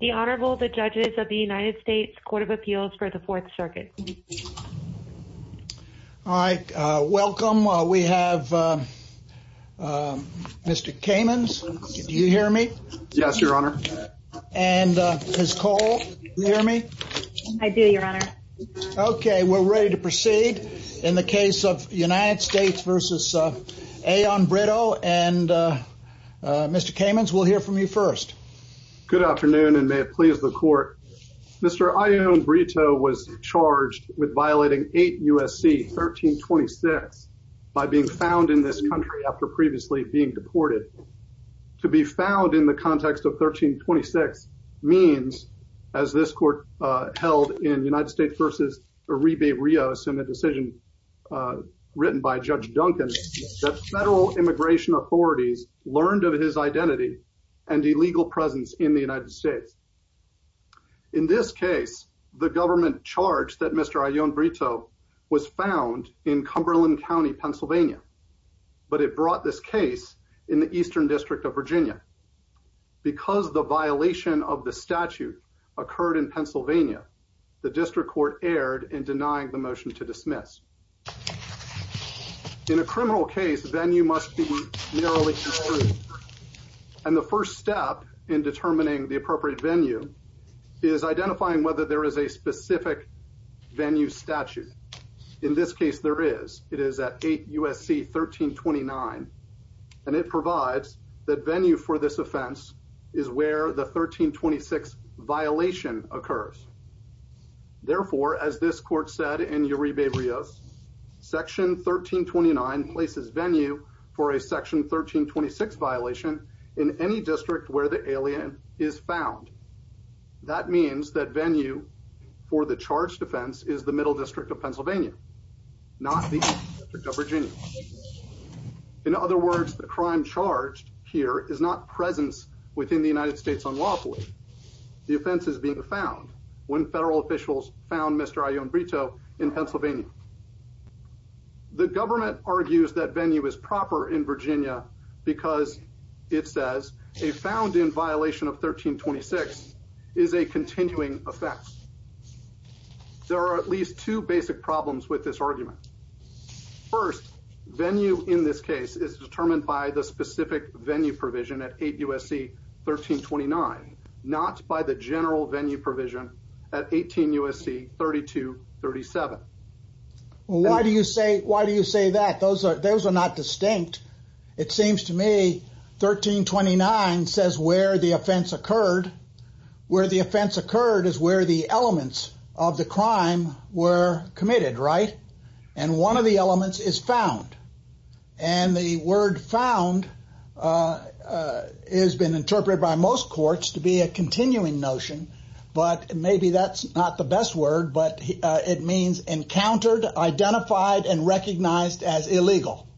The Honorable, the Judges of the United States Court of Appeals for the Fourth Circuit. All right, welcome. We have Mr. Kamens. Do you hear me? Yes, Your Honor. And Ms. Cole, do you hear me? I do, Your Honor. Okay, we're ready to proceed. In the case of United States v. Ayon-Brito and Mr. Kamens, we'll hear from you first. Good afternoon, and may it please the Court. Mr. Ayon-Brito was charged with violating 8 U.S.C. 1326 by being found in this country after previously being deported. To be found in the context of 1326 means, as this Court held in United States v. Uribe-Rios in a decision written by Judge Duncan, that federal immigration authorities learned of his identity and illegal presence in the United States. In this case, the government charge that Mr. Ayon-Brito was found in Cumberland County, Pennsylvania. But it brought this case in the Eastern District of Virginia. Because the violation of the statute occurred in Pennsylvania, the District Court erred in denying the motion to dismiss. In a criminal case, venue must be narrowly construed. And the first step in determining the appropriate venue is identifying whether there is a specific venue statute. In this case, there is. It is at 8 U.S.C. 1329. And it provides that venue for this offense is where the 1326 violation occurs. Therefore, as this Court said in Uribe-Rios, Section 1329 places venue for a Section 1326 violation in any district where the alien is found. That means that venue for the charged offense is the Middle District of Pennsylvania, not the Eastern District of Virginia. In other words, the crime charged here is not presence within the United States unlawfully. The offense is being found when federal officials found Mr. Ayon-Brito in Pennsylvania. The government argues that venue is proper in Virginia because, it says, a found in violation of 1326 is a continuing offense. There are at least two basic problems with this argument. First, venue in this case is determined by the specific venue provision at 8 U.S.C. 1329, not by the general venue provision at 18 U.S.C. 3237. Why do you say that? Those are not distinct. It seems to me 1329 says where the offense occurred. Where the offense occurred is where the elements of the crime were committed, right? And one of the elements is found. And the word found has been interpreted by most courts to be a continuing notion. But maybe that's not the best word, but it means encountered, identified, and recognized as illegal.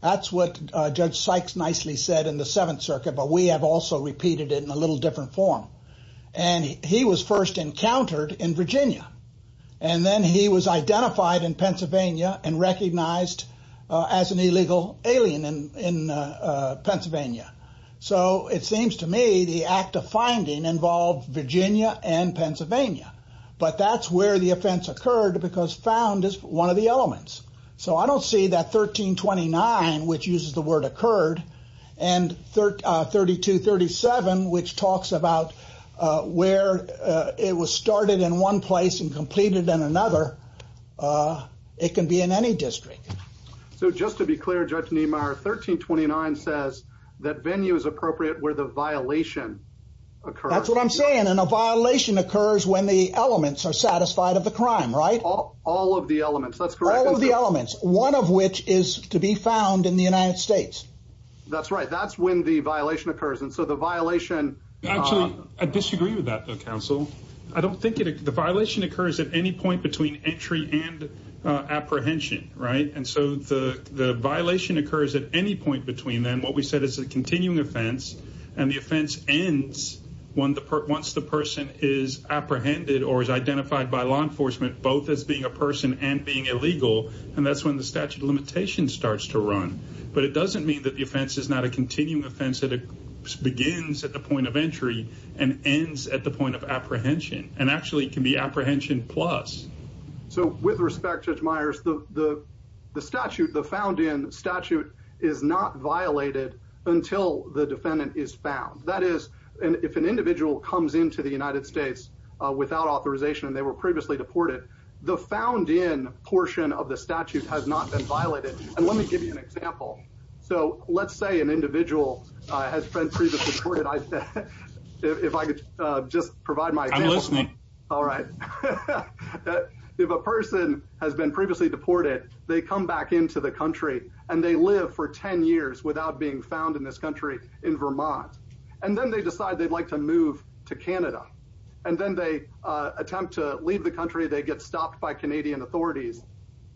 That's what Judge Sykes nicely said in the Seventh Circuit, but we have also repeated it in a little different form. And he was first encountered in Virginia. And then he was identified in Pennsylvania and recognized as an illegal alien in Pennsylvania. So it seems to me the act of finding involved Virginia and Pennsylvania. But that's where the offense occurred because found is one of the elements. So I don't see that 1329, which uses the word occurred, and 3237, which talks about where it was started in one place and completed in another. It can be in any district. So just to be clear, Judge Niemeyer, 1329 says that venue is appropriate where the violation occurs. That's what I'm saying. And a violation occurs when the elements are satisfied of the crime, right? All of the elements, that's correct. All of the elements, one of which is to be found in the United States. That's right. That's when the violation occurs. And so the violation. Actually, I disagree with that, Counsel. I don't think the violation occurs at any point between entry and apprehension. Right. And so the violation occurs at any point between them. Both as being a person and being illegal. And that's when the statute of limitations starts to run. But it doesn't mean that the offense is not a continuing offense that begins at the point of entry and ends at the point of apprehension. And actually it can be apprehension plus. So with respect, Judge Myers, the statute, the found in statute is not violated until the defendant is found. That is, if an individual comes into the United States without authorization and they were previously deported, the found in portion of the statute has not been violated. And let me give you an example. So let's say an individual has been previously deported. If I could just provide my listening. All right. If a person has been previously deported, they come back into the country and they live for 10 years without being found in this country in Vermont, and then they decide they'd like to move to Canada. And then they attempt to leave the country. They get stopped by Canadian authorities.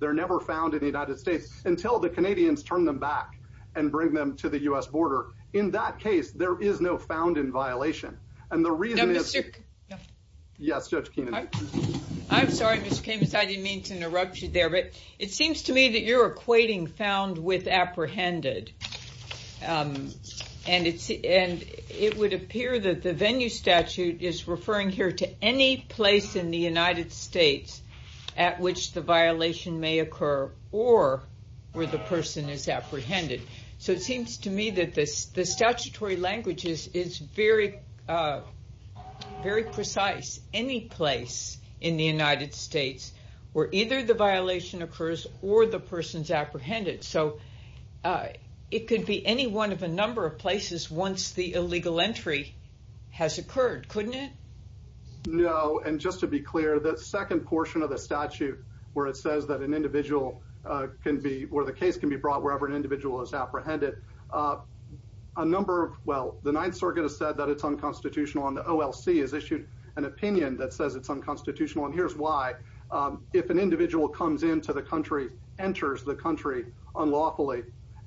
They're never found in the United States until the Canadians turn them back and bring them to the U.S. border. In that case, there is no found in violation. And the reason is. Yes. I'm sorry. I didn't mean to interrupt you there, but it seems to me that you're equating found with apprehended. And it's and it would appear that the venue statute is referring here to any place in the United States at which the violation may occur or where the person is apprehended. So it seems to me that this the statutory language is is very, very precise. Any place in the United States where either the violation occurs or the person's apprehended. So it could be any one of a number of places once the illegal entry has occurred, couldn't it? No. And just to be clear, that second portion of the statute where it says that an individual can be where the case can be brought wherever an individual is apprehended a number. Well, the Ninth Circuit has said that it's unconstitutional on the OLC has issued an opinion that says it's unconstitutional. And here's why. If an individual comes into the country, enters the country unlawfully.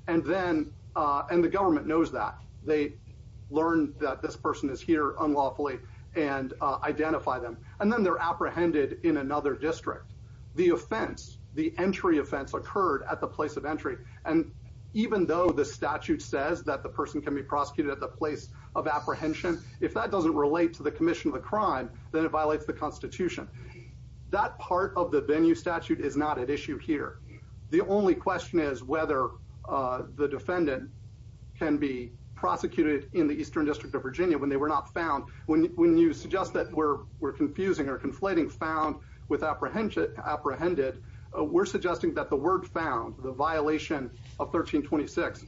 And then and the government knows that they learn that this person is here unlawfully and identify them. And then they're apprehended in another district. The offense, the entry offense occurred at the place of entry. And even though the statute says that the person can be prosecuted at the place of apprehension, if that doesn't relate to the commission of a crime, then it violates the Constitution. That part of the venue statute is not at issue here. The only question is whether the defendant can be prosecuted in the eastern district of Virginia when they were not found. When you suggest that we're we're confusing or conflating found with apprehension, apprehended. We're suggesting that the word found the violation of 1326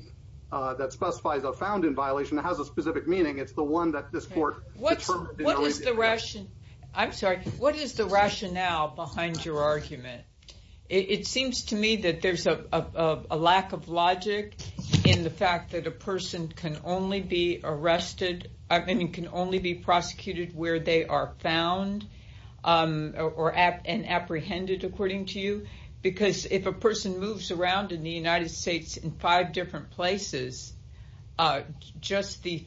that specifies a found in violation has a specific meaning. It's the one that this court what's what is the ration? I'm sorry. What is the rationale behind your argument? It seems to me that there's a lack of logic in the fact that a person can only be arrested. I mean, you can only be prosecuted where they are found or at an apprehended, according to you. Because if a person moves around in the United States in five different places, just the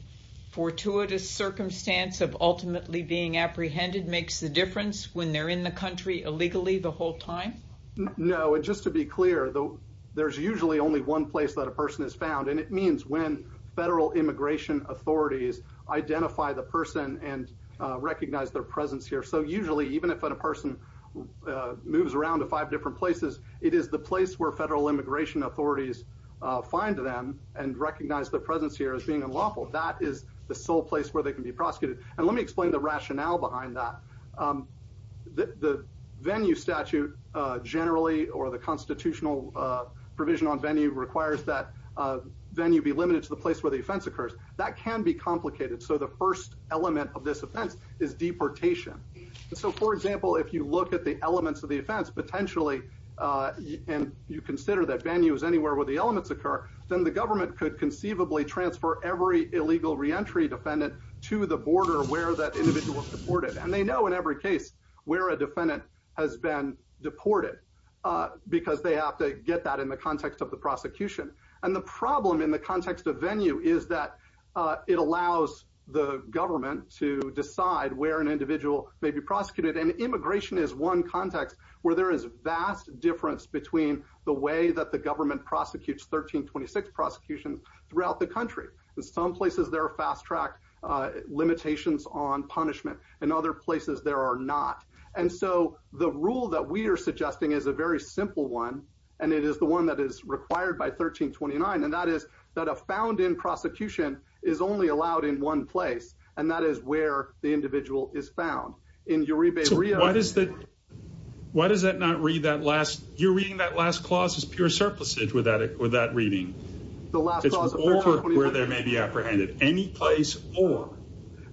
fortuitous circumstance of ultimately being apprehended makes the difference when they're in the country illegally the whole time. No. And just to be clear, though, there's usually only one place that a person is found. And it means when federal immigration authorities identify the person and recognize their presence here. So usually, even if a person moves around to five different places, it is the place where federal immigration authorities find them and recognize their presence here as being unlawful. That is the sole place where they can be prosecuted. And let me explain the rationale behind that. The venue statute generally or the constitutional provision on venue requires that venue be limited to the place where the offense occurs. That can be complicated. So the first element of this offense is deportation. So, for example, if you look at the elements of the offense, potentially, and you consider that venue is anywhere where the elements occur, then the government could conceivably transfer every illegal reentry defendant to the border where that individual was deported. And they know in every case where a defendant has been deported because they have to get that in the context of the prosecution. And the problem in the context of venue is that it allows the government to decide where an individual may be prosecuted. And immigration is one context where there is vast difference between the way that the government prosecutes 1326 prosecutions throughout the country. In some places, there are fast-track limitations on punishment. In other places, there are not. And so the rule that we are suggesting is a very simple one, and it is the one that is required by 1329. And that is that a found-in prosecution is only allowed in one place, and that is where the individual is found. In Uribe, Rio— So why does that—why does that not read that last—you're reading that last clause as pure surplusage with that reading. The last clause of 1329— It's where there may be apprehended, any place or.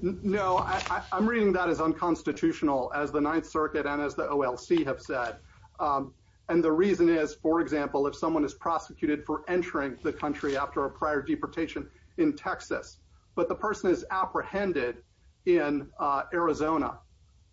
No, I'm reading that as unconstitutional, as the Ninth Circuit and as the OLC have said. And the reason is, for example, if someone is prosecuted for entering the country after a prior deportation in Texas, but the person is apprehended in Arizona,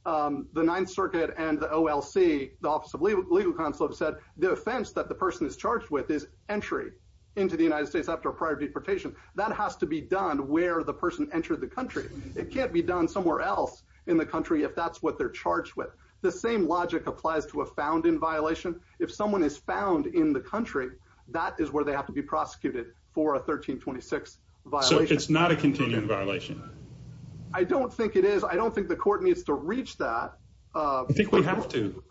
the Ninth Circuit and the OLC, the Office of Legal Counsel, have said the offense that the person is charged with is entry into the United States after a prior deportation. That has to be done where the person entered the country. It can't be done somewhere else in the country if that's what they're charged with. The same logic applies to a found-in violation. If someone is found in the country, that is where they have to be prosecuted for a 1326 violation. So it's not a continuing violation? I don't think it is. I don't think the court needs to reach that. I think we have to.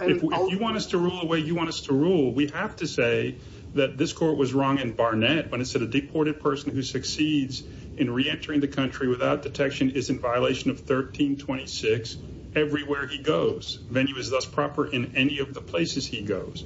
If you want us to rule the way you want us to rule, we have to say that this court was wrong in Barnett when it said a deported person who succeeds in reentering the country without detection is in violation of 1326 everywhere he goes. Venue is thus proper in any of the places he goes.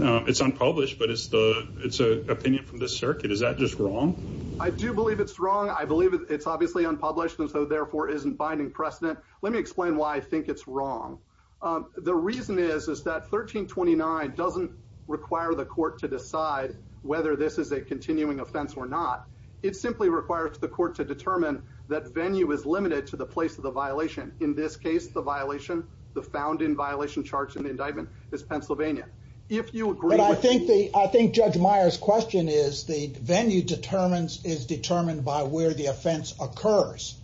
It's unpublished, but it's an opinion from this circuit. Is that just wrong? I do believe it's wrong. I believe it's obviously unpublished and so, therefore, isn't binding precedent. Let me explain why I think it's wrong. The reason is is that 1329 doesn't require the court to decide whether this is a continuing offense or not. It simply requires the court to determine that venue is limited to the place of the violation. In this case, the violation, the found-in violation charged in the indictment is Pennsylvania. If you agree with me. But I think Judge Meyer's question is the venue is determined by where the offense occurs.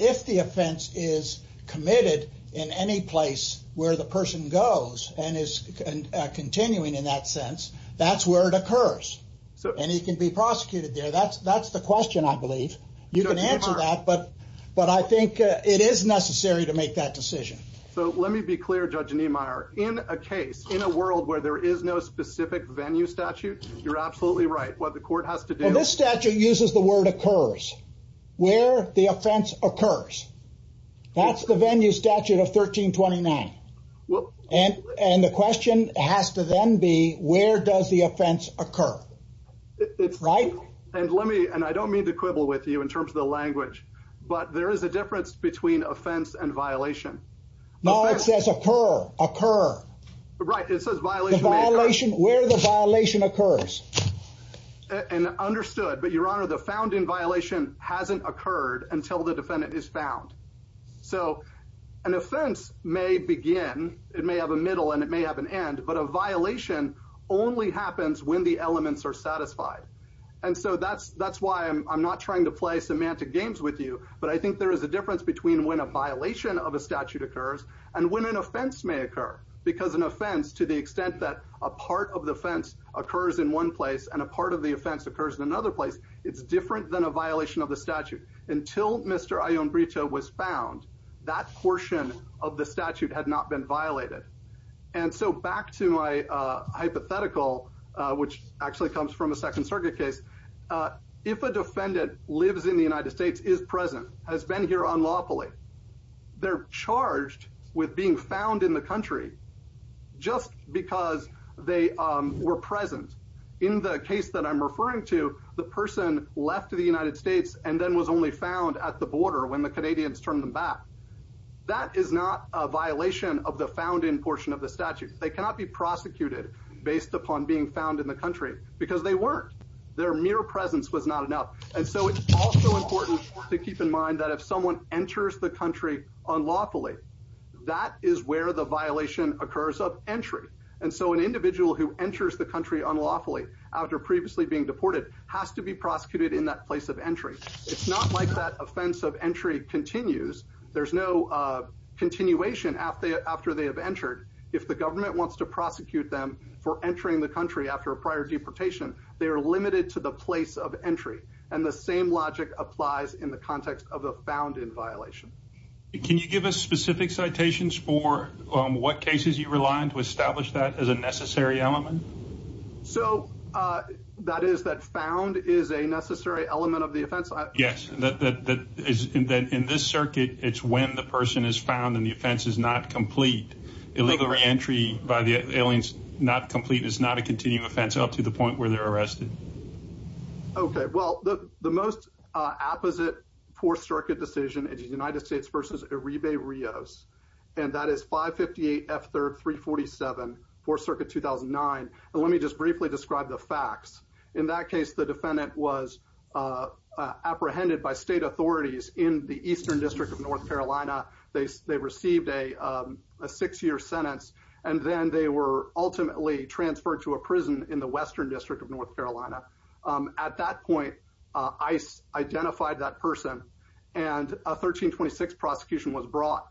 If the offense is committed in any place where the person goes and is continuing in that sense, that's where it occurs. So and he can be prosecuted there. That's that's the question. I believe you can answer that. But but I think it is necessary to make that decision. So let me be clear, Judge Niemeyer, in a case, in a world where there is no specific venue statute, you're absolutely right. What the court has to do. This statute uses the word occurs where the offense occurs. That's the venue statute of 1329. Well, and and the question has to then be, where does the offense occur? It's right. And let me and I don't mean to quibble with you in terms of the language, but there is a difference between offense and violation. No, it says occur, occur. Right. It says violation violation where the violation occurs and understood. But, Your Honor, the founding violation hasn't occurred until the defendant is found. So an offense may begin. It may have a middle and it may have an end. But a violation only happens when the elements are satisfied. And so that's that's why I'm not trying to play semantic games with you. But I think there is a difference between when a violation of a statute occurs and when an offense may occur, because an offense, to the extent that a part of the fence occurs in one place and a part of the offense occurs in another place. It's different than a violation of the statute. Until Mr. Ion Brito was found, that portion of the statute had not been violated. And so back to my hypothetical, which actually comes from a Second Circuit case. If a defendant lives in the United States, is present, has been here unlawfully. They're charged with being found in the country just because they were present in the case that I'm referring to. The person left to the United States and then was only found at the border when the Canadians turned them back. That is not a violation of the found in portion of the statute. They cannot be prosecuted based upon being found in the country because they weren't. Their mere presence was not enough. And so it's also important to keep in mind that if someone enters the country unlawfully, that is where the violation occurs of entry. And so an individual who enters the country unlawfully after previously being deported has to be prosecuted in that place of entry. It's not like that offense of entry continues. There's no continuation after after they have entered. If the government wants to prosecute them for entering the country after a prior deportation, they are limited to the place of entry. And the same logic applies in the context of the found in violation. Can you give us specific citations for what cases you rely on to establish that as a necessary element? So that is that found is a necessary element of the offense. Yes, that is. And then in this circuit, it's when the person is found and the offense is not complete. Illegal reentry by the aliens. Not complete is not a continued offense up to the point where they're arrested. OK, well, the most apposite for circuit decision is the United States versus a rebate Rios. And that is five fifty eight after three forty seven for circuit two thousand nine. And let me just briefly describe the facts. In that case, the defendant was apprehended by state authorities in the eastern district of North Carolina. They they received a six year sentence and then they were ultimately transferred to a prison in the western district of North Carolina. At that point, ICE identified that person and a 1326 prosecution was brought.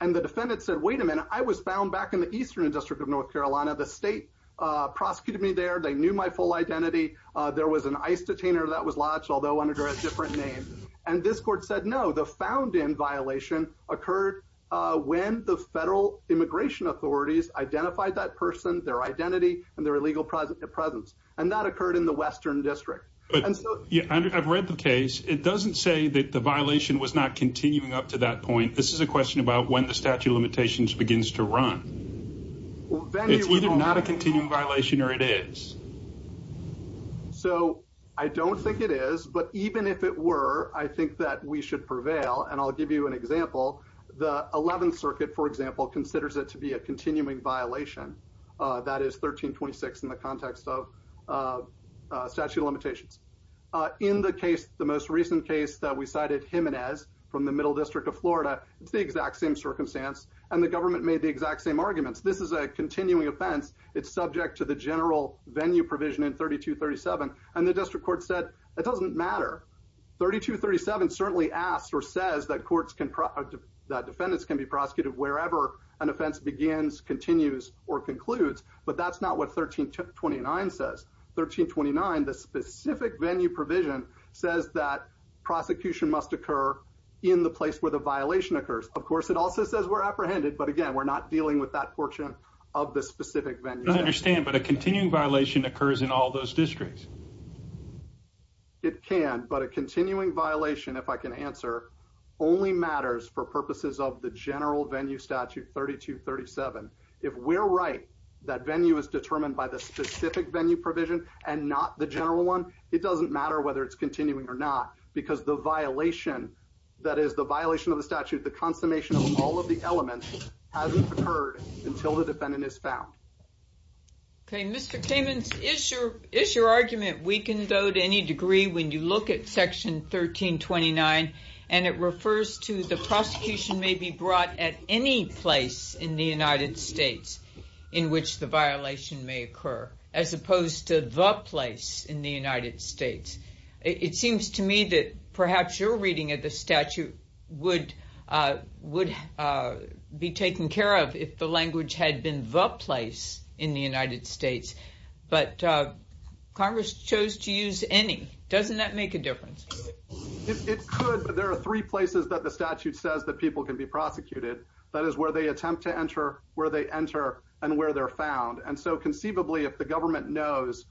And the defendant said, wait a minute, I was found back in the eastern district of North Carolina. The state prosecuted me there. They knew my full identity. There was an ICE detainer that was lodged, although under a different name. And this court said, no, the found in violation occurred when the federal immigration authorities identified that person, their identity and their illegal presence and that occurred in the western district. And so I've read the case. It doesn't say that the violation was not continuing up to that point. This is a question about when the statute of limitations begins to run. It's not a continuing violation or it is. So I don't think it is, but even if it were, I think that we should prevail. And I'll give you an example. The 11th Circuit, for example, considers it to be a continuing violation. That is 1326 in the context of statute of limitations. In the case, the most recent case that we cited, Jimenez from the middle district of Florida. It's the exact same circumstance. And the government made the exact same arguments. This is a continuing offense. It's subject to the general venue provision in 3237. And the district court said it doesn't matter. 3237 certainly asked or says that courts can that defendants can be prosecuted wherever an offense begins, continues or concludes. But that's not what 1329 says. 1329, the specific venue provision says that prosecution must occur in the place where the violation occurs. Of course, it also says we're apprehended. But again, we're not dealing with that portion of the specific venue. I understand, but a continuing violation occurs in all those districts. It can, but a continuing violation, if I can answer, only matters for purposes of the general venue statute 3237. If we're right, that venue is determined by the specific venue provision and not the general one. It doesn't matter whether it's continuing or not, because the violation that is the violation of the statute, the consummation of all of the elements hasn't occurred until the defendant is found. OK, Mr. Kamen's issue is your argument. We can go to any degree when you look at Section 1329. And it refers to the prosecution may be brought at any place in the United States in which the violation may occur, as opposed to the place in the United States. It seems to me that perhaps your reading of the statute would would be taken care of if the language had been the place in the United States. But Congress chose to use any. Doesn't that make a difference? It could. But there are three places that the statute says that people can be prosecuted. That is where they attempt to enter, where they enter and where they're found. And so conceivably, if the government knows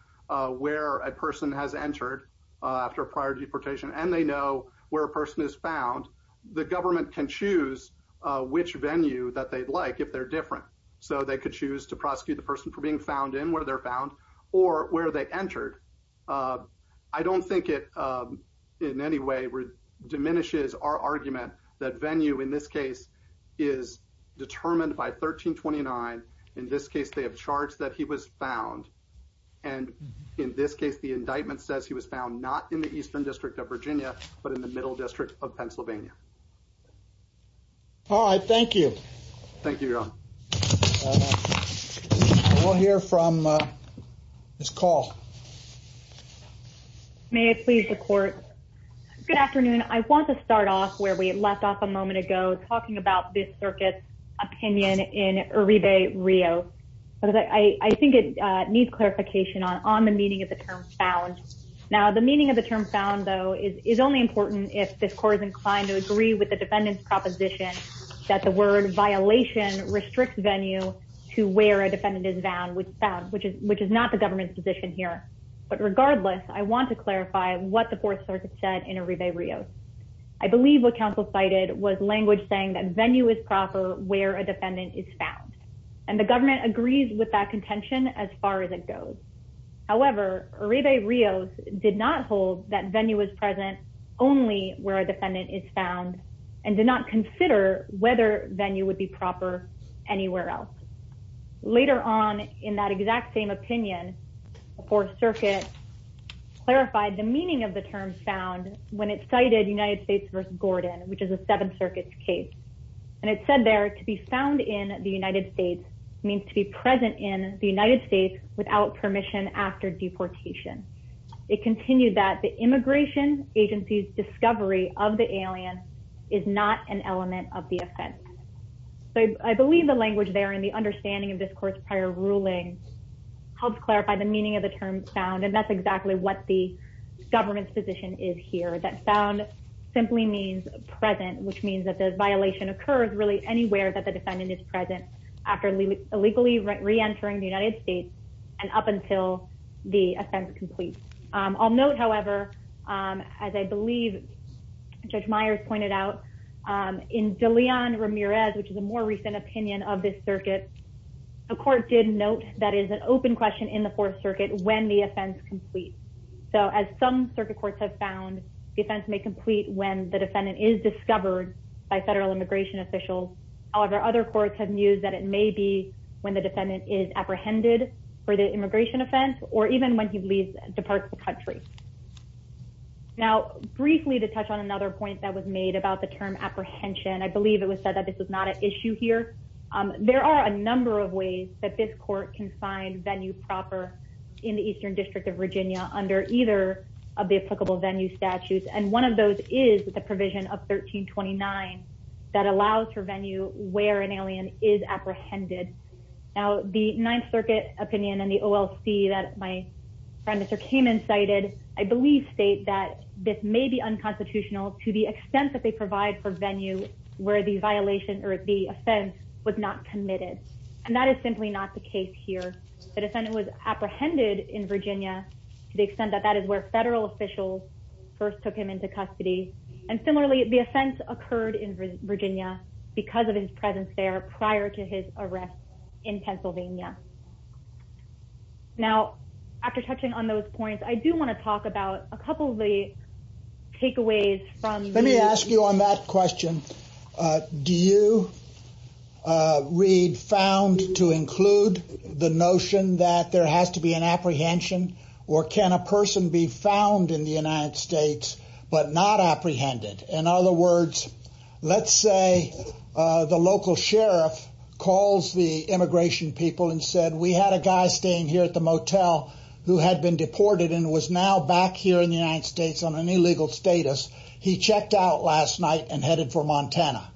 where a person has entered after a prior deportation and they know where a person is found, the government can choose which venue that they'd like if they're different. So they could choose to prosecute the person for being found in where they're found or where they entered. I don't think it in any way diminishes our argument that venue in this case is determined by 1329. In this case, they have charged that he was found. And in this case, the indictment says he was found not in the eastern district of Virginia, but in the middle district of Pennsylvania. All right. Thank you. Thank you. We'll hear from this call. May it please the court. Good afternoon. I want to start off where we left off a moment ago, talking about this circuit opinion in Rio. I think it needs clarification on the meaning of the term found. Now, the meaning of the term found, though, is only important if this court is inclined to agree with the defendant's proposition that the word violation restricts venue to where a defendant is found, which is not the government's position here. But regardless, I want to clarify what the fourth circuit said in Arrive Rio. I believe what counsel cited was language saying that venue is proper where a defendant is found. And the government agrees with that contention as far as it goes. However, Arrive Rio did not hold that venue was present only where a defendant is found and did not consider whether venue would be proper anywhere else. Later on in that exact same opinion, the fourth circuit clarified the meaning of the term found when it cited United States versus Gordon, which is a seven circuits case. And it said there to be found in the United States means to be present in the United States without permission after deportation. It continued that the immigration agency's discovery of the alien is not an element of the offense. I believe the language there and the understanding of this court's prior ruling helps clarify the meaning of the term found. And that's exactly what the government's position is here. That sound simply means present, which means that the violation occurs really anywhere that the defendant is present after illegally reentering the United States. And up until the offense complete. I'll note, however, as I believe Judge Myers pointed out in DeLeon Ramirez, which is a more recent opinion of this circuit. A court did note that is an open question in the fourth circuit when the offense complete. So as some circuit courts have found defense may complete when the defendant is discovered by federal immigration officials. However, other courts have news that it may be when the defendant is apprehended for the immigration offense or even when he leaves, departs the country. Now, briefly to touch on another point that was made about the term apprehension, I believe it was said that this is not an issue here. There are a number of ways that this court can find venue proper in the eastern district of Virginia under either of the applicable venue statutes. And one of those is the provision of 1329 that allows for venue where an alien is apprehended. Now, the Ninth Circuit opinion and the OLC that my friend Mr. Cayman cited, I believe state that this may be unconstitutional to the extent that they provide for venue where the violation or the offense was not committed. And that is simply not the case here. The defendant was apprehended in Virginia to the extent that that is where federal officials first took him into custody. And similarly, the offense occurred in Virginia because of his presence there prior to his arrest in Pennsylvania. Now, after touching on those points, I do want to talk about a couple of the takeaways from let me ask you on that question. Do you read found to include the notion that there has to be an apprehension or can a person be found in the United States but not apprehended? In other words, let's say the local sheriff calls the immigration people and said, we had a guy staying here at the motel who had been deported and was now back here in the United States on an illegal status. He checked out last night and headed for Montana.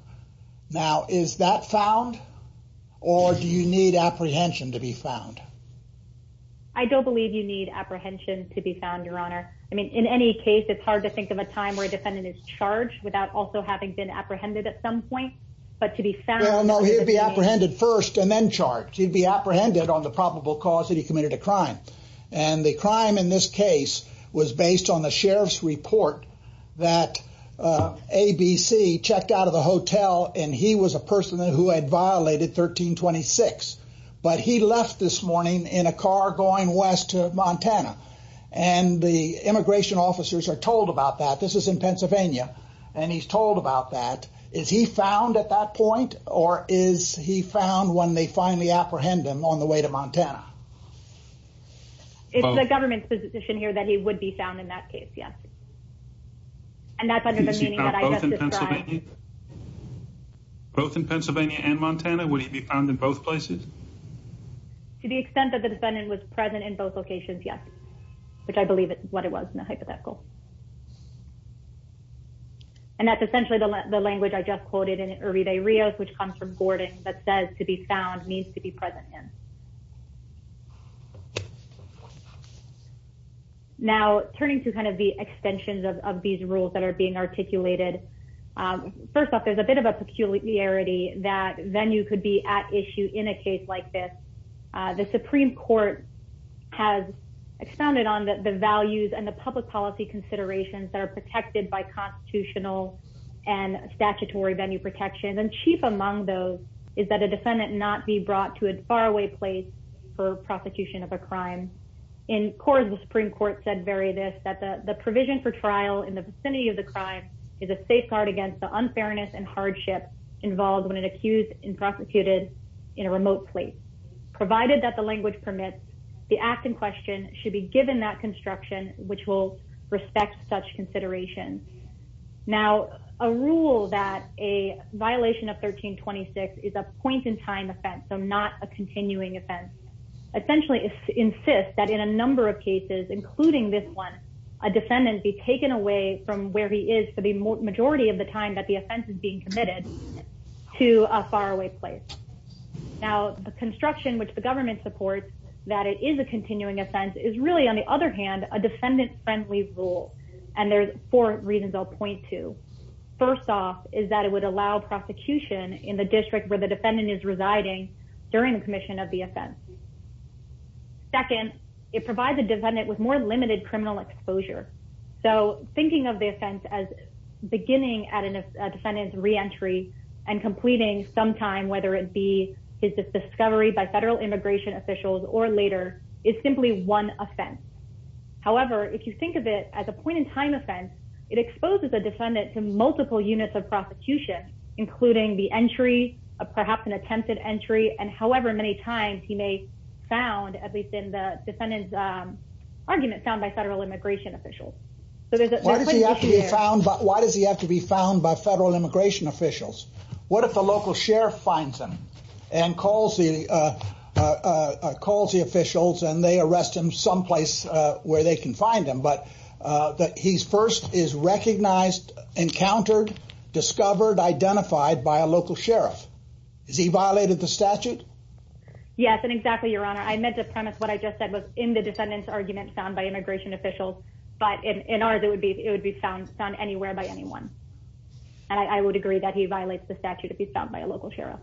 Now, is that found or do you need apprehension to be found? I don't believe you need apprehension to be found, Your Honor. I mean, in any case, it's hard to think of a time where a defendant is charged without also having been apprehended at some point. But to be found. No, he'd be apprehended first and then charged. He'd be apprehended on the probable cause that he committed a crime. And the crime in this case was based on the sheriff's report that ABC checked out of the hotel and he was a person who had violated 1326. But he left this morning in a car going west to Montana. And the immigration officers are told about that. This is in Pennsylvania. And he's told about that. Is he found at that point or is he found when they finally apprehend him on the way to Montana? It's the government's position here that he would be found in that case, yes. And that's under the meaning that I have described. Is he found both in Pennsylvania? Both in Pennsylvania and Montana? Would he be found in both places? To the extent that the defendant was present in both locations, yes. Which I believe is what it was in the hypothetical. And that's essentially the language I just quoted in Uribe Rios, which comes from Gordon, that says to be found means to be present in. Now, turning to kind of the extensions of these rules that are being articulated. First off, there's a bit of a peculiarity that Venue could be at issue in a case like this. The Supreme Court has expounded on the values and the public policy considerations that are protected by constitutional and statutory Venue protection. And chief among those is that a defendant not be brought to a faraway place for prosecution of a crime. In court, the Supreme Court said very this, that the provision for trial in the vicinity of the crime is a safeguard against the unfairness and hardship involved when an accused and prosecuted in a remote place. Provided that the language permits, the act in question should be given that construction, which will respect such consideration. Now, a rule that a violation of 1326 is a point in time offense, so not a continuing offense, essentially insists that in a number of cases, including this one, a defendant be taken away from where he is for the majority of the time that the offense is being committed to a faraway place. Now, the construction, which the government supports that it is a continuing offense, is really, on the other hand, a defendant-friendly rule. And there's four reasons I'll point to. First off is that it would allow prosecution in the district where the defendant is residing during the commission of the offense. Second, it provides a defendant with more limited criminal exposure. So, thinking of the offense as beginning at a defendant's reentry and completing sometime, whether it be his discovery by federal immigration officials or later, is simply one offense. However, if you think of it as a point in time offense, it exposes a defendant to multiple units of prosecution, including the entry, perhaps an attempted entry, and however many times he may be found, at least in the defendant's argument, found by federal immigration officials. Why does he have to be found by federal immigration officials? What if a local sheriff finds him and calls the officials and they arrest him someplace where they can find him, but he first is recognized, encountered, discovered, identified by a local sheriff? Has he violated the statute? Yes, and exactly, Your Honor. I meant to premise what I just said was in the defendant's argument found by immigration officials, but in ours, it would be found anywhere by anyone. And I would agree that he violates the statute if he's found by a local sheriff.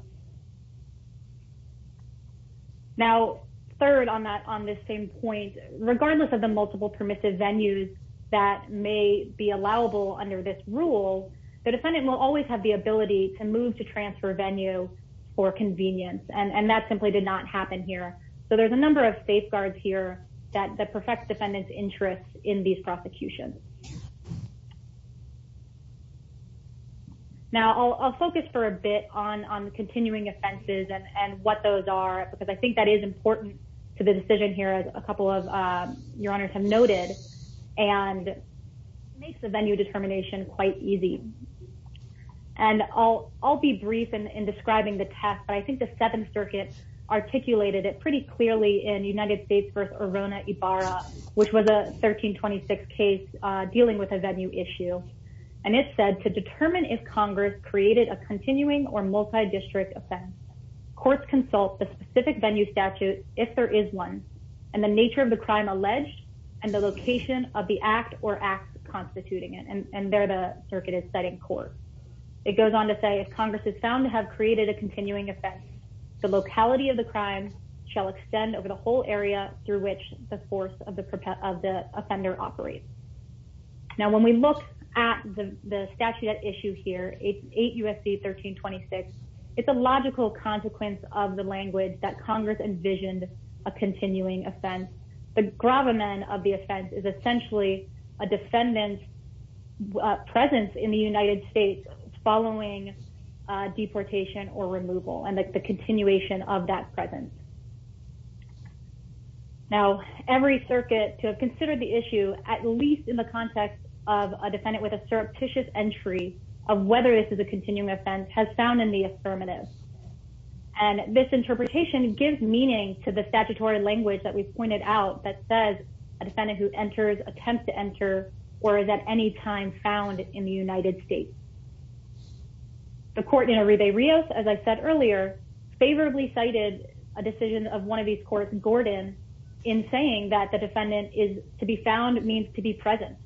Now, third on this same point, regardless of the multiple permissive venues that may be allowable under this rule, the defendant will always have the ability to move to transfer venue for convenience, and that simply did not happen here. So, there's a number of safeguards here that perfect defendant's interest in these prosecutions. Now, I'll focus for a bit on the continuing offenses and what those are, because I think that is important to the decision here, as a couple of Your Honors have noted, and makes the venue determination quite easy. And I'll be brief in describing the test, but I think the Seventh Circuit articulated it pretty clearly in United States v. Arona Ibarra, which was a 1326 case dealing with a venue issue. And it said, to determine if Congress created a continuing or multi-district offense, courts consult the specific venue statute if there is one, and the nature of the crime alleged, and the location of the act or acts constituting it. And there the circuit is setting court. It goes on to say, if Congress is found to have created a continuing offense, the locality of the crime shall extend over the whole area through which the force of the offender operates. Now, when we look at the statute at issue here, 8 U.S.C. 1326, it's a logical consequence of the language that Congress envisioned a continuing offense. The gravamen of the offense is essentially a defendant's presence in the United States following deportation or removal, and the continuation of that presence. Now, every circuit to have considered the issue, at least in the context of a defendant with a surreptitious entry of whether this is a continuing offense, has found in the affirmative. And this interpretation gives meaning to the statutory language that we've pointed out that says a defendant who enters, attempts to enter, or is at any time found in the United States. The court in Arebe Rios, as I said earlier, favorably cited a decision of one of these courts, Gordon, in saying that the defendant is to be found means to be present.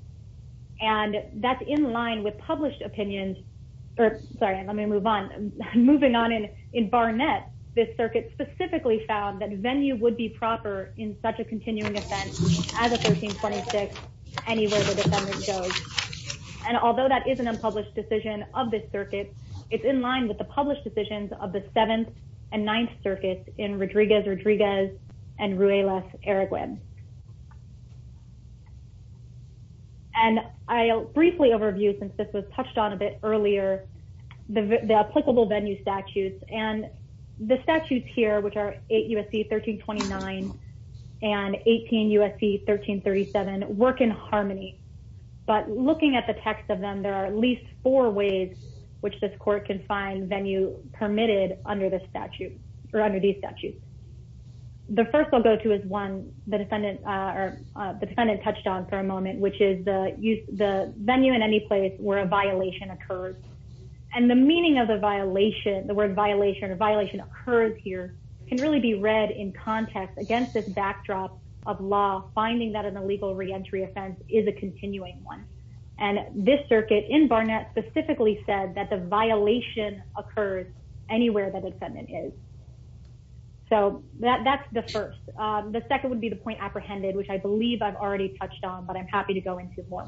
And that's in line with published opinions. Sorry, let me move on. Moving on in Barnett, this circuit specifically found that venue would be proper in such a continuing offense as a 1326 anywhere the defendant goes. And although that is an unpublished decision of this circuit, it's in line with the published decisions of the Seventh and Ninth Circuits in Rodriguez-Rodriguez and Ruelas-Ereguen. And I'll briefly overview, since this was touched on a bit earlier, the applicable venue statutes. And the statutes here, which are 8 U.S.C. 1329 and 18 U.S.C. 1337, work in harmony. But looking at the text of them, there are at least four ways which this court can find venue permitted under this statute, or under these statutes. The first I'll go to is one the defendant touched on for a moment, which is the venue in any place where a violation occurs. And the meaning of the word violation or violation occurs here can really be read in context against this backdrop of law, finding that an illegal reentry offense is a continuing one. And this circuit in Barnett specifically said that the violation occurs anywhere that the defendant is. So that's the first. The second would be the point apprehended, which I believe I've already touched on, but I'm happy to go into more.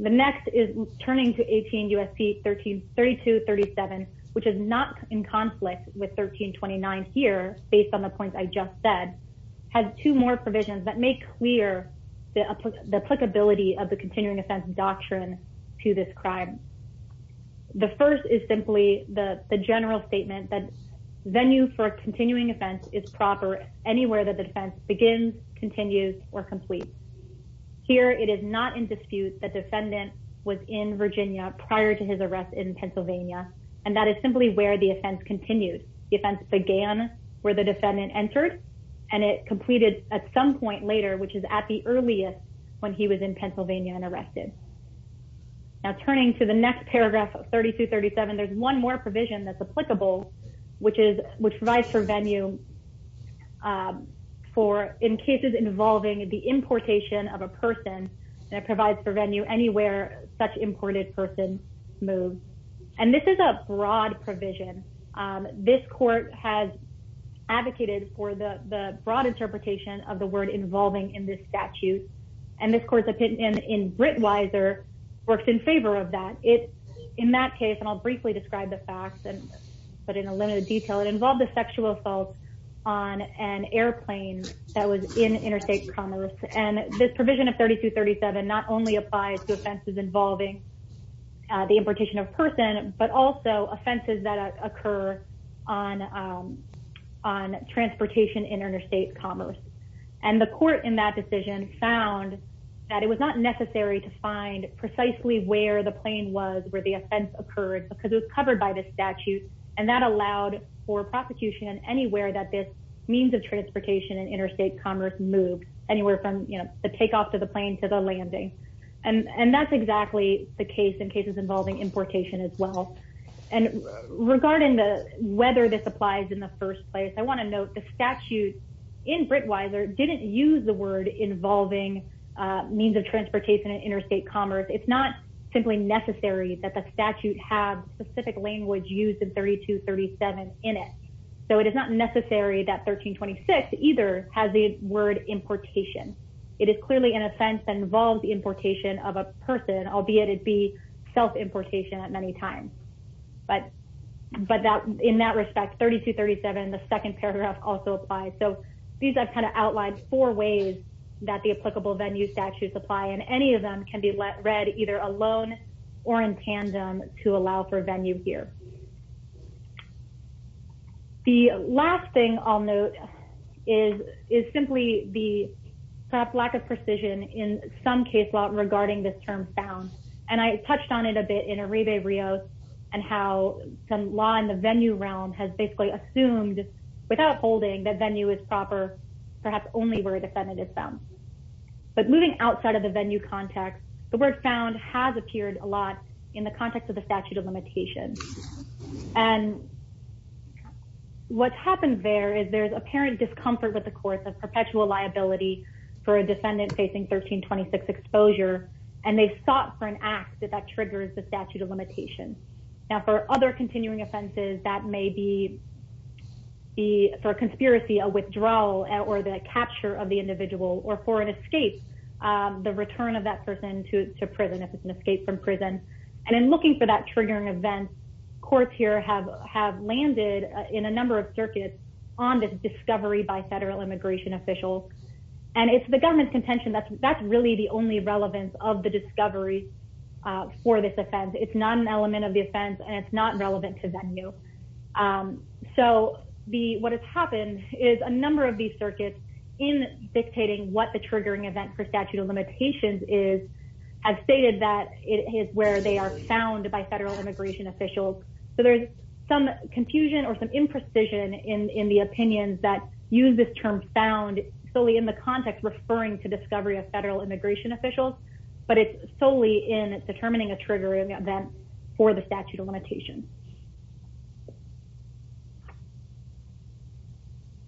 The next is turning to 18 U.S.C. 1332-37, which is not in conflict with 1329 here, based on the points I just said. Has two more provisions that make clear the applicability of the continuing offense doctrine to this crime. The first is simply the general statement that venue for a continuing offense is proper anywhere that the defense begins, continues, or completes. Here it is not in dispute that defendant was in Virginia prior to his arrest in Pennsylvania, and that is simply where the offense continued. The offense began where the defendant entered, and it completed at some point later, which is at the earliest when he was in Pennsylvania and arrested. Now, turning to the next paragraph of 1332-37, there's one more provision that's applicable, which provides for venue for in cases involving the importation of a person. And it provides for venue anywhere such imported person moves. And this is a broad provision. This court has advocated for the broad interpretation of the word involving in this statute, and this court's opinion in Britweiser works in favor of that. In that case, and I'll briefly describe the facts, but in a limited detail, it involved a sexual assault on an airplane that was in interstate commerce. And this provision of 1332-37 not only applies to offenses involving the importation of a person, but also offenses that occur on transportation in interstate commerce. And the court in that decision found that it was not necessary to find precisely where the plane was, where the offense occurred, because it was covered by the statute. And that allowed for prosecution anywhere that this means of transportation in interstate commerce moved, anywhere from the takeoff to the plane to the landing. And that's exactly the case in cases involving importation as well. And regarding the whether this applies in the first place, I want to note the statute in Britweiser didn't use the word involving means of transportation in interstate commerce. It's not simply necessary that the statute have specific language used in 32-37 in it. So it is not necessary that 1326 either has the word importation. It is clearly an offense that involves the importation of a person, albeit it be self-importation at many times. But in that respect, 32-37, the second paragraph also applies. So these I've kind of outlined four ways that the applicable venue statutes apply. And any of them can be read either alone or in tandem to allow for venue here. The last thing I'll note is simply the lack of precision in some case law regarding this term found. And I touched on it a bit in Arrive Rio and how some law in the venue realm has basically assumed without holding that venue is proper, perhaps only where a defendant is found. But moving outside of the venue context, the word found has appeared a lot in the context of the statute of limitations. And what's happened there is there's apparent discomfort with the course of perpetual liability for a defendant facing 1326 exposure. And they've sought for an act that triggers the statute of limitations. Now, for other continuing offenses, that may be for a conspiracy, a withdrawal, or the capture of the individual, or for an escape, the return of that person to prison, if it's an escape from prison. And in looking for that triggering event, courts here have landed in a number of circuits on this discovery by federal immigration officials. And it's the government's contention that that's really the only relevance of the discovery for this offense. It's not an element of the offense, and it's not relevant to venue. So what has happened is a number of these circuits in dictating what the triggering event for statute of limitations is have stated that it is where they are found by federal immigration officials. So there's some confusion or some imprecision in the opinions that use this term found solely in the context referring to discovery of federal immigration officials. But it's solely in determining a triggering event for the statute of limitations.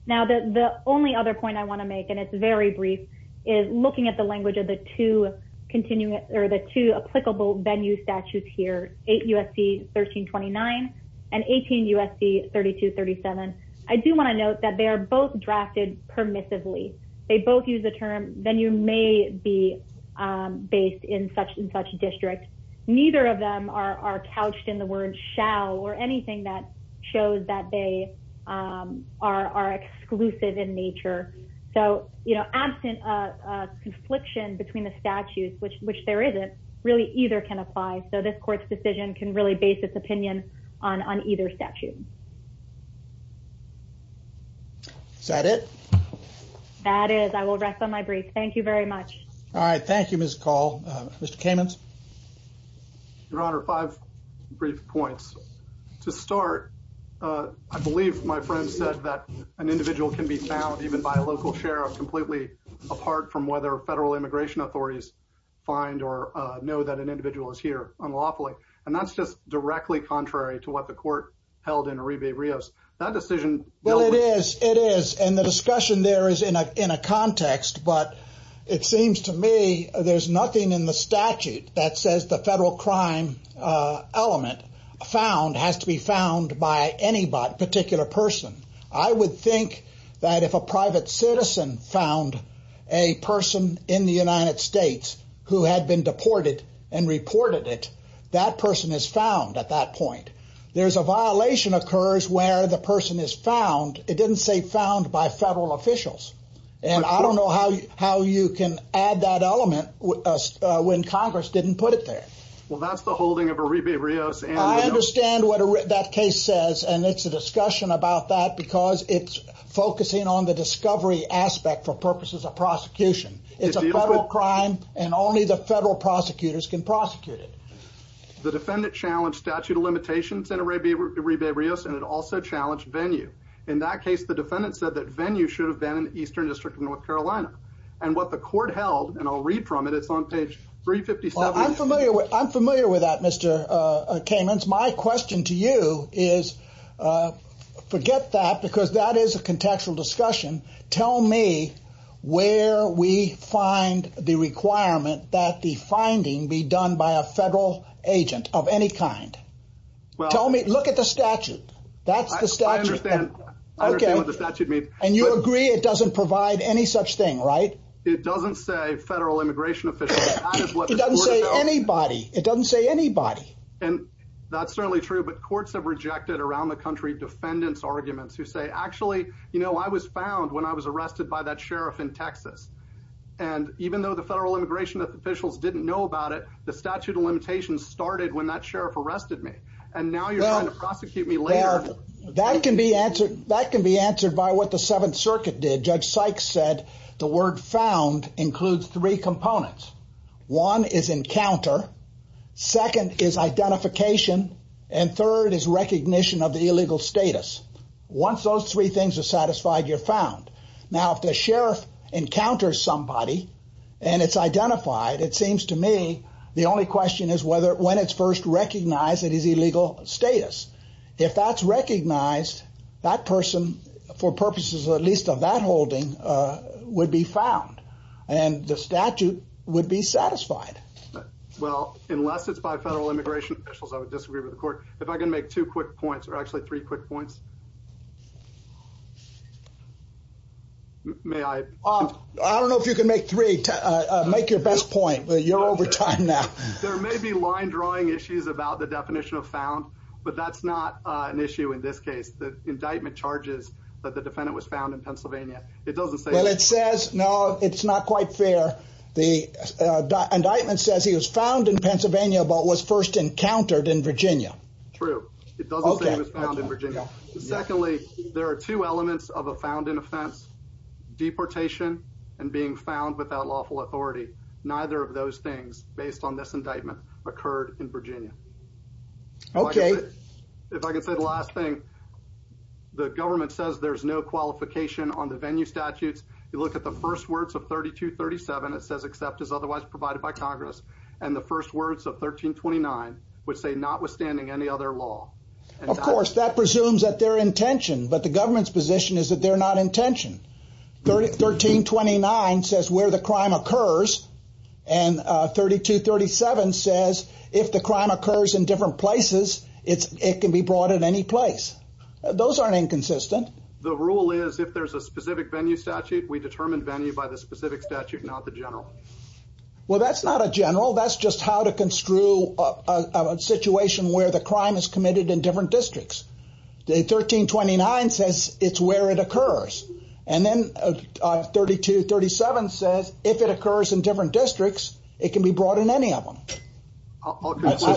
Now, the only other point I want to make, and it's very brief, is looking at the language of the two continuing or the two applicable venue statutes here, 8 U.S.C. 1329 and 18 U.S.C. 3237. I do want to note that they are both drafted permissively. They both use the term venue may be based in such and such district. Neither of them are couched in the word shall or anything that shows that they are exclusive in nature. So, you know, absent a confliction between the statutes, which which there isn't really either can apply. So this court's decision can really base its opinion on on either statute. Is that it? That is, I will rest on my brief. Thank you very much. All right. Thank you, Miss Call. Mr. Caymans. Your Honor, five brief points to start. I believe my friend said that an individual can be found even by a local sheriff, completely apart from whether federal immigration authorities find or know that an individual is here unlawfully. And that's just directly contrary to what the court held in Arriba Rios. That decision. Well, it is. It is. And the discussion there is in a in a context. But it seems to me there's nothing in the statute that says the federal crime element found has to be found by any particular person. I would think that if a private citizen found a person in the United States who had been deported and reported it, that person is found at that point. There's a violation occurs where the person is found. It didn't say found by federal officials. And I don't know how how you can add that element when Congress didn't put it there. Well, that's the holding of Arriba Rios. I understand what that case says. And it's a discussion about that because it's focusing on the discovery aspect for purposes of prosecution. It's a crime and only the federal prosecutors can prosecute it. The defendant challenged statute of limitations in Arriba Rios and it also challenged venue. In that case, the defendant said that venue should have been in the eastern district of North Carolina. And what the court held and I'll read from it. It's on page 357. I'm familiar with I'm familiar with that, Mr. Kamen's. My question to you is, forget that, because that is a contextual discussion. Tell me where we find the requirement that the finding be done by a federal agent of any kind. Well, tell me. Look at the statute. That's the statute. And you agree it doesn't provide any such thing, right? It doesn't say federal immigration. It doesn't say anybody. It doesn't say anybody. And that's certainly true. But courts have rejected around the country defendants arguments who say, actually, you know, I was found when I was arrested by that sheriff in Texas. And even though the federal immigration officials didn't know about it, the statute of limitations started when that sheriff arrested me. And now you're going to prosecute me. That can be answered. That can be answered by what the Seventh Circuit did. Judge Sykes said the word found includes three components. One is encounter. Second is identification. And third is recognition of the illegal status. Once those three things are satisfied, you're found. Now, if the sheriff encounters somebody and it's identified, it seems to me the only question is whether when it's first recognize it is illegal status. If that's recognized, that person, for purposes at least of that holding, would be found. And the statute would be satisfied. Well, unless it's by federal immigration officials, I would disagree with the court. If I can make two quick points, or actually three quick points. May I? I don't know if you can make three. Make your best point. You're over time now. There may be line drawing issues about the definition of found, but that's not an issue in this case. The indictment charges that the defendant was found in Pennsylvania. It doesn't say that. Well, it says, no, it's not quite fair. The indictment says he was found in Pennsylvania but was first encountered in Virginia. True. It doesn't say he was found in Virginia. Secondly, there are two elements of a found in offense. Deportation and being found without lawful authority. Neither of those things, based on this indictment, occurred in Virginia. Okay. If I could say the last thing, the government says there's no qualification on the venue statutes. You look at the first words of 3237, it says except as otherwise provided by Congress. And the first words of 1329 would say notwithstanding any other law. Of course, that presumes that they're intentioned. But the government's position is that they're not intentioned. 1329 says where the crime occurs. And 3237 says if the crime occurs in different places, it can be brought in any place. Those aren't inconsistent. The rule is if there's a specific venue statute, we determine venue by the specific statute, not the general. Well, that's not a general. That's just how to construe a situation where the crime is committed in different districts. 1329 says it's where it occurs. And then 3237 says if it occurs in different districts, it can be brought in any of them. Okay.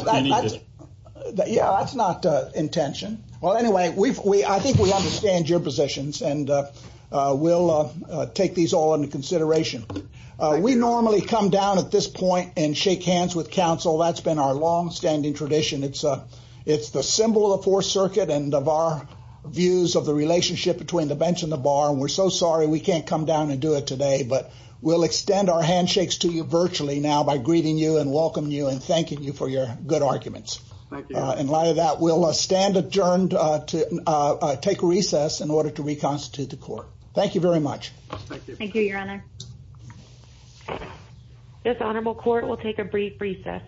Yeah, that's not intention. Well, anyway, I think we understand your positions, and we'll take these all into consideration. We normally come down at this point and shake hands with counsel. That's been our longstanding tradition. It's the symbol of the Fourth Circuit and of our views of the relationship between the bench and the bar. And we're so sorry we can't come down and do it today. But we'll extend our handshakes to you virtually now by greeting you and welcoming you and thanking you for your good arguments. And like that, we'll stand adjourned to take recess in order to reconstitute the court. Thank you very much. Thank you, Your Honor. This honorable court will take a brief recess.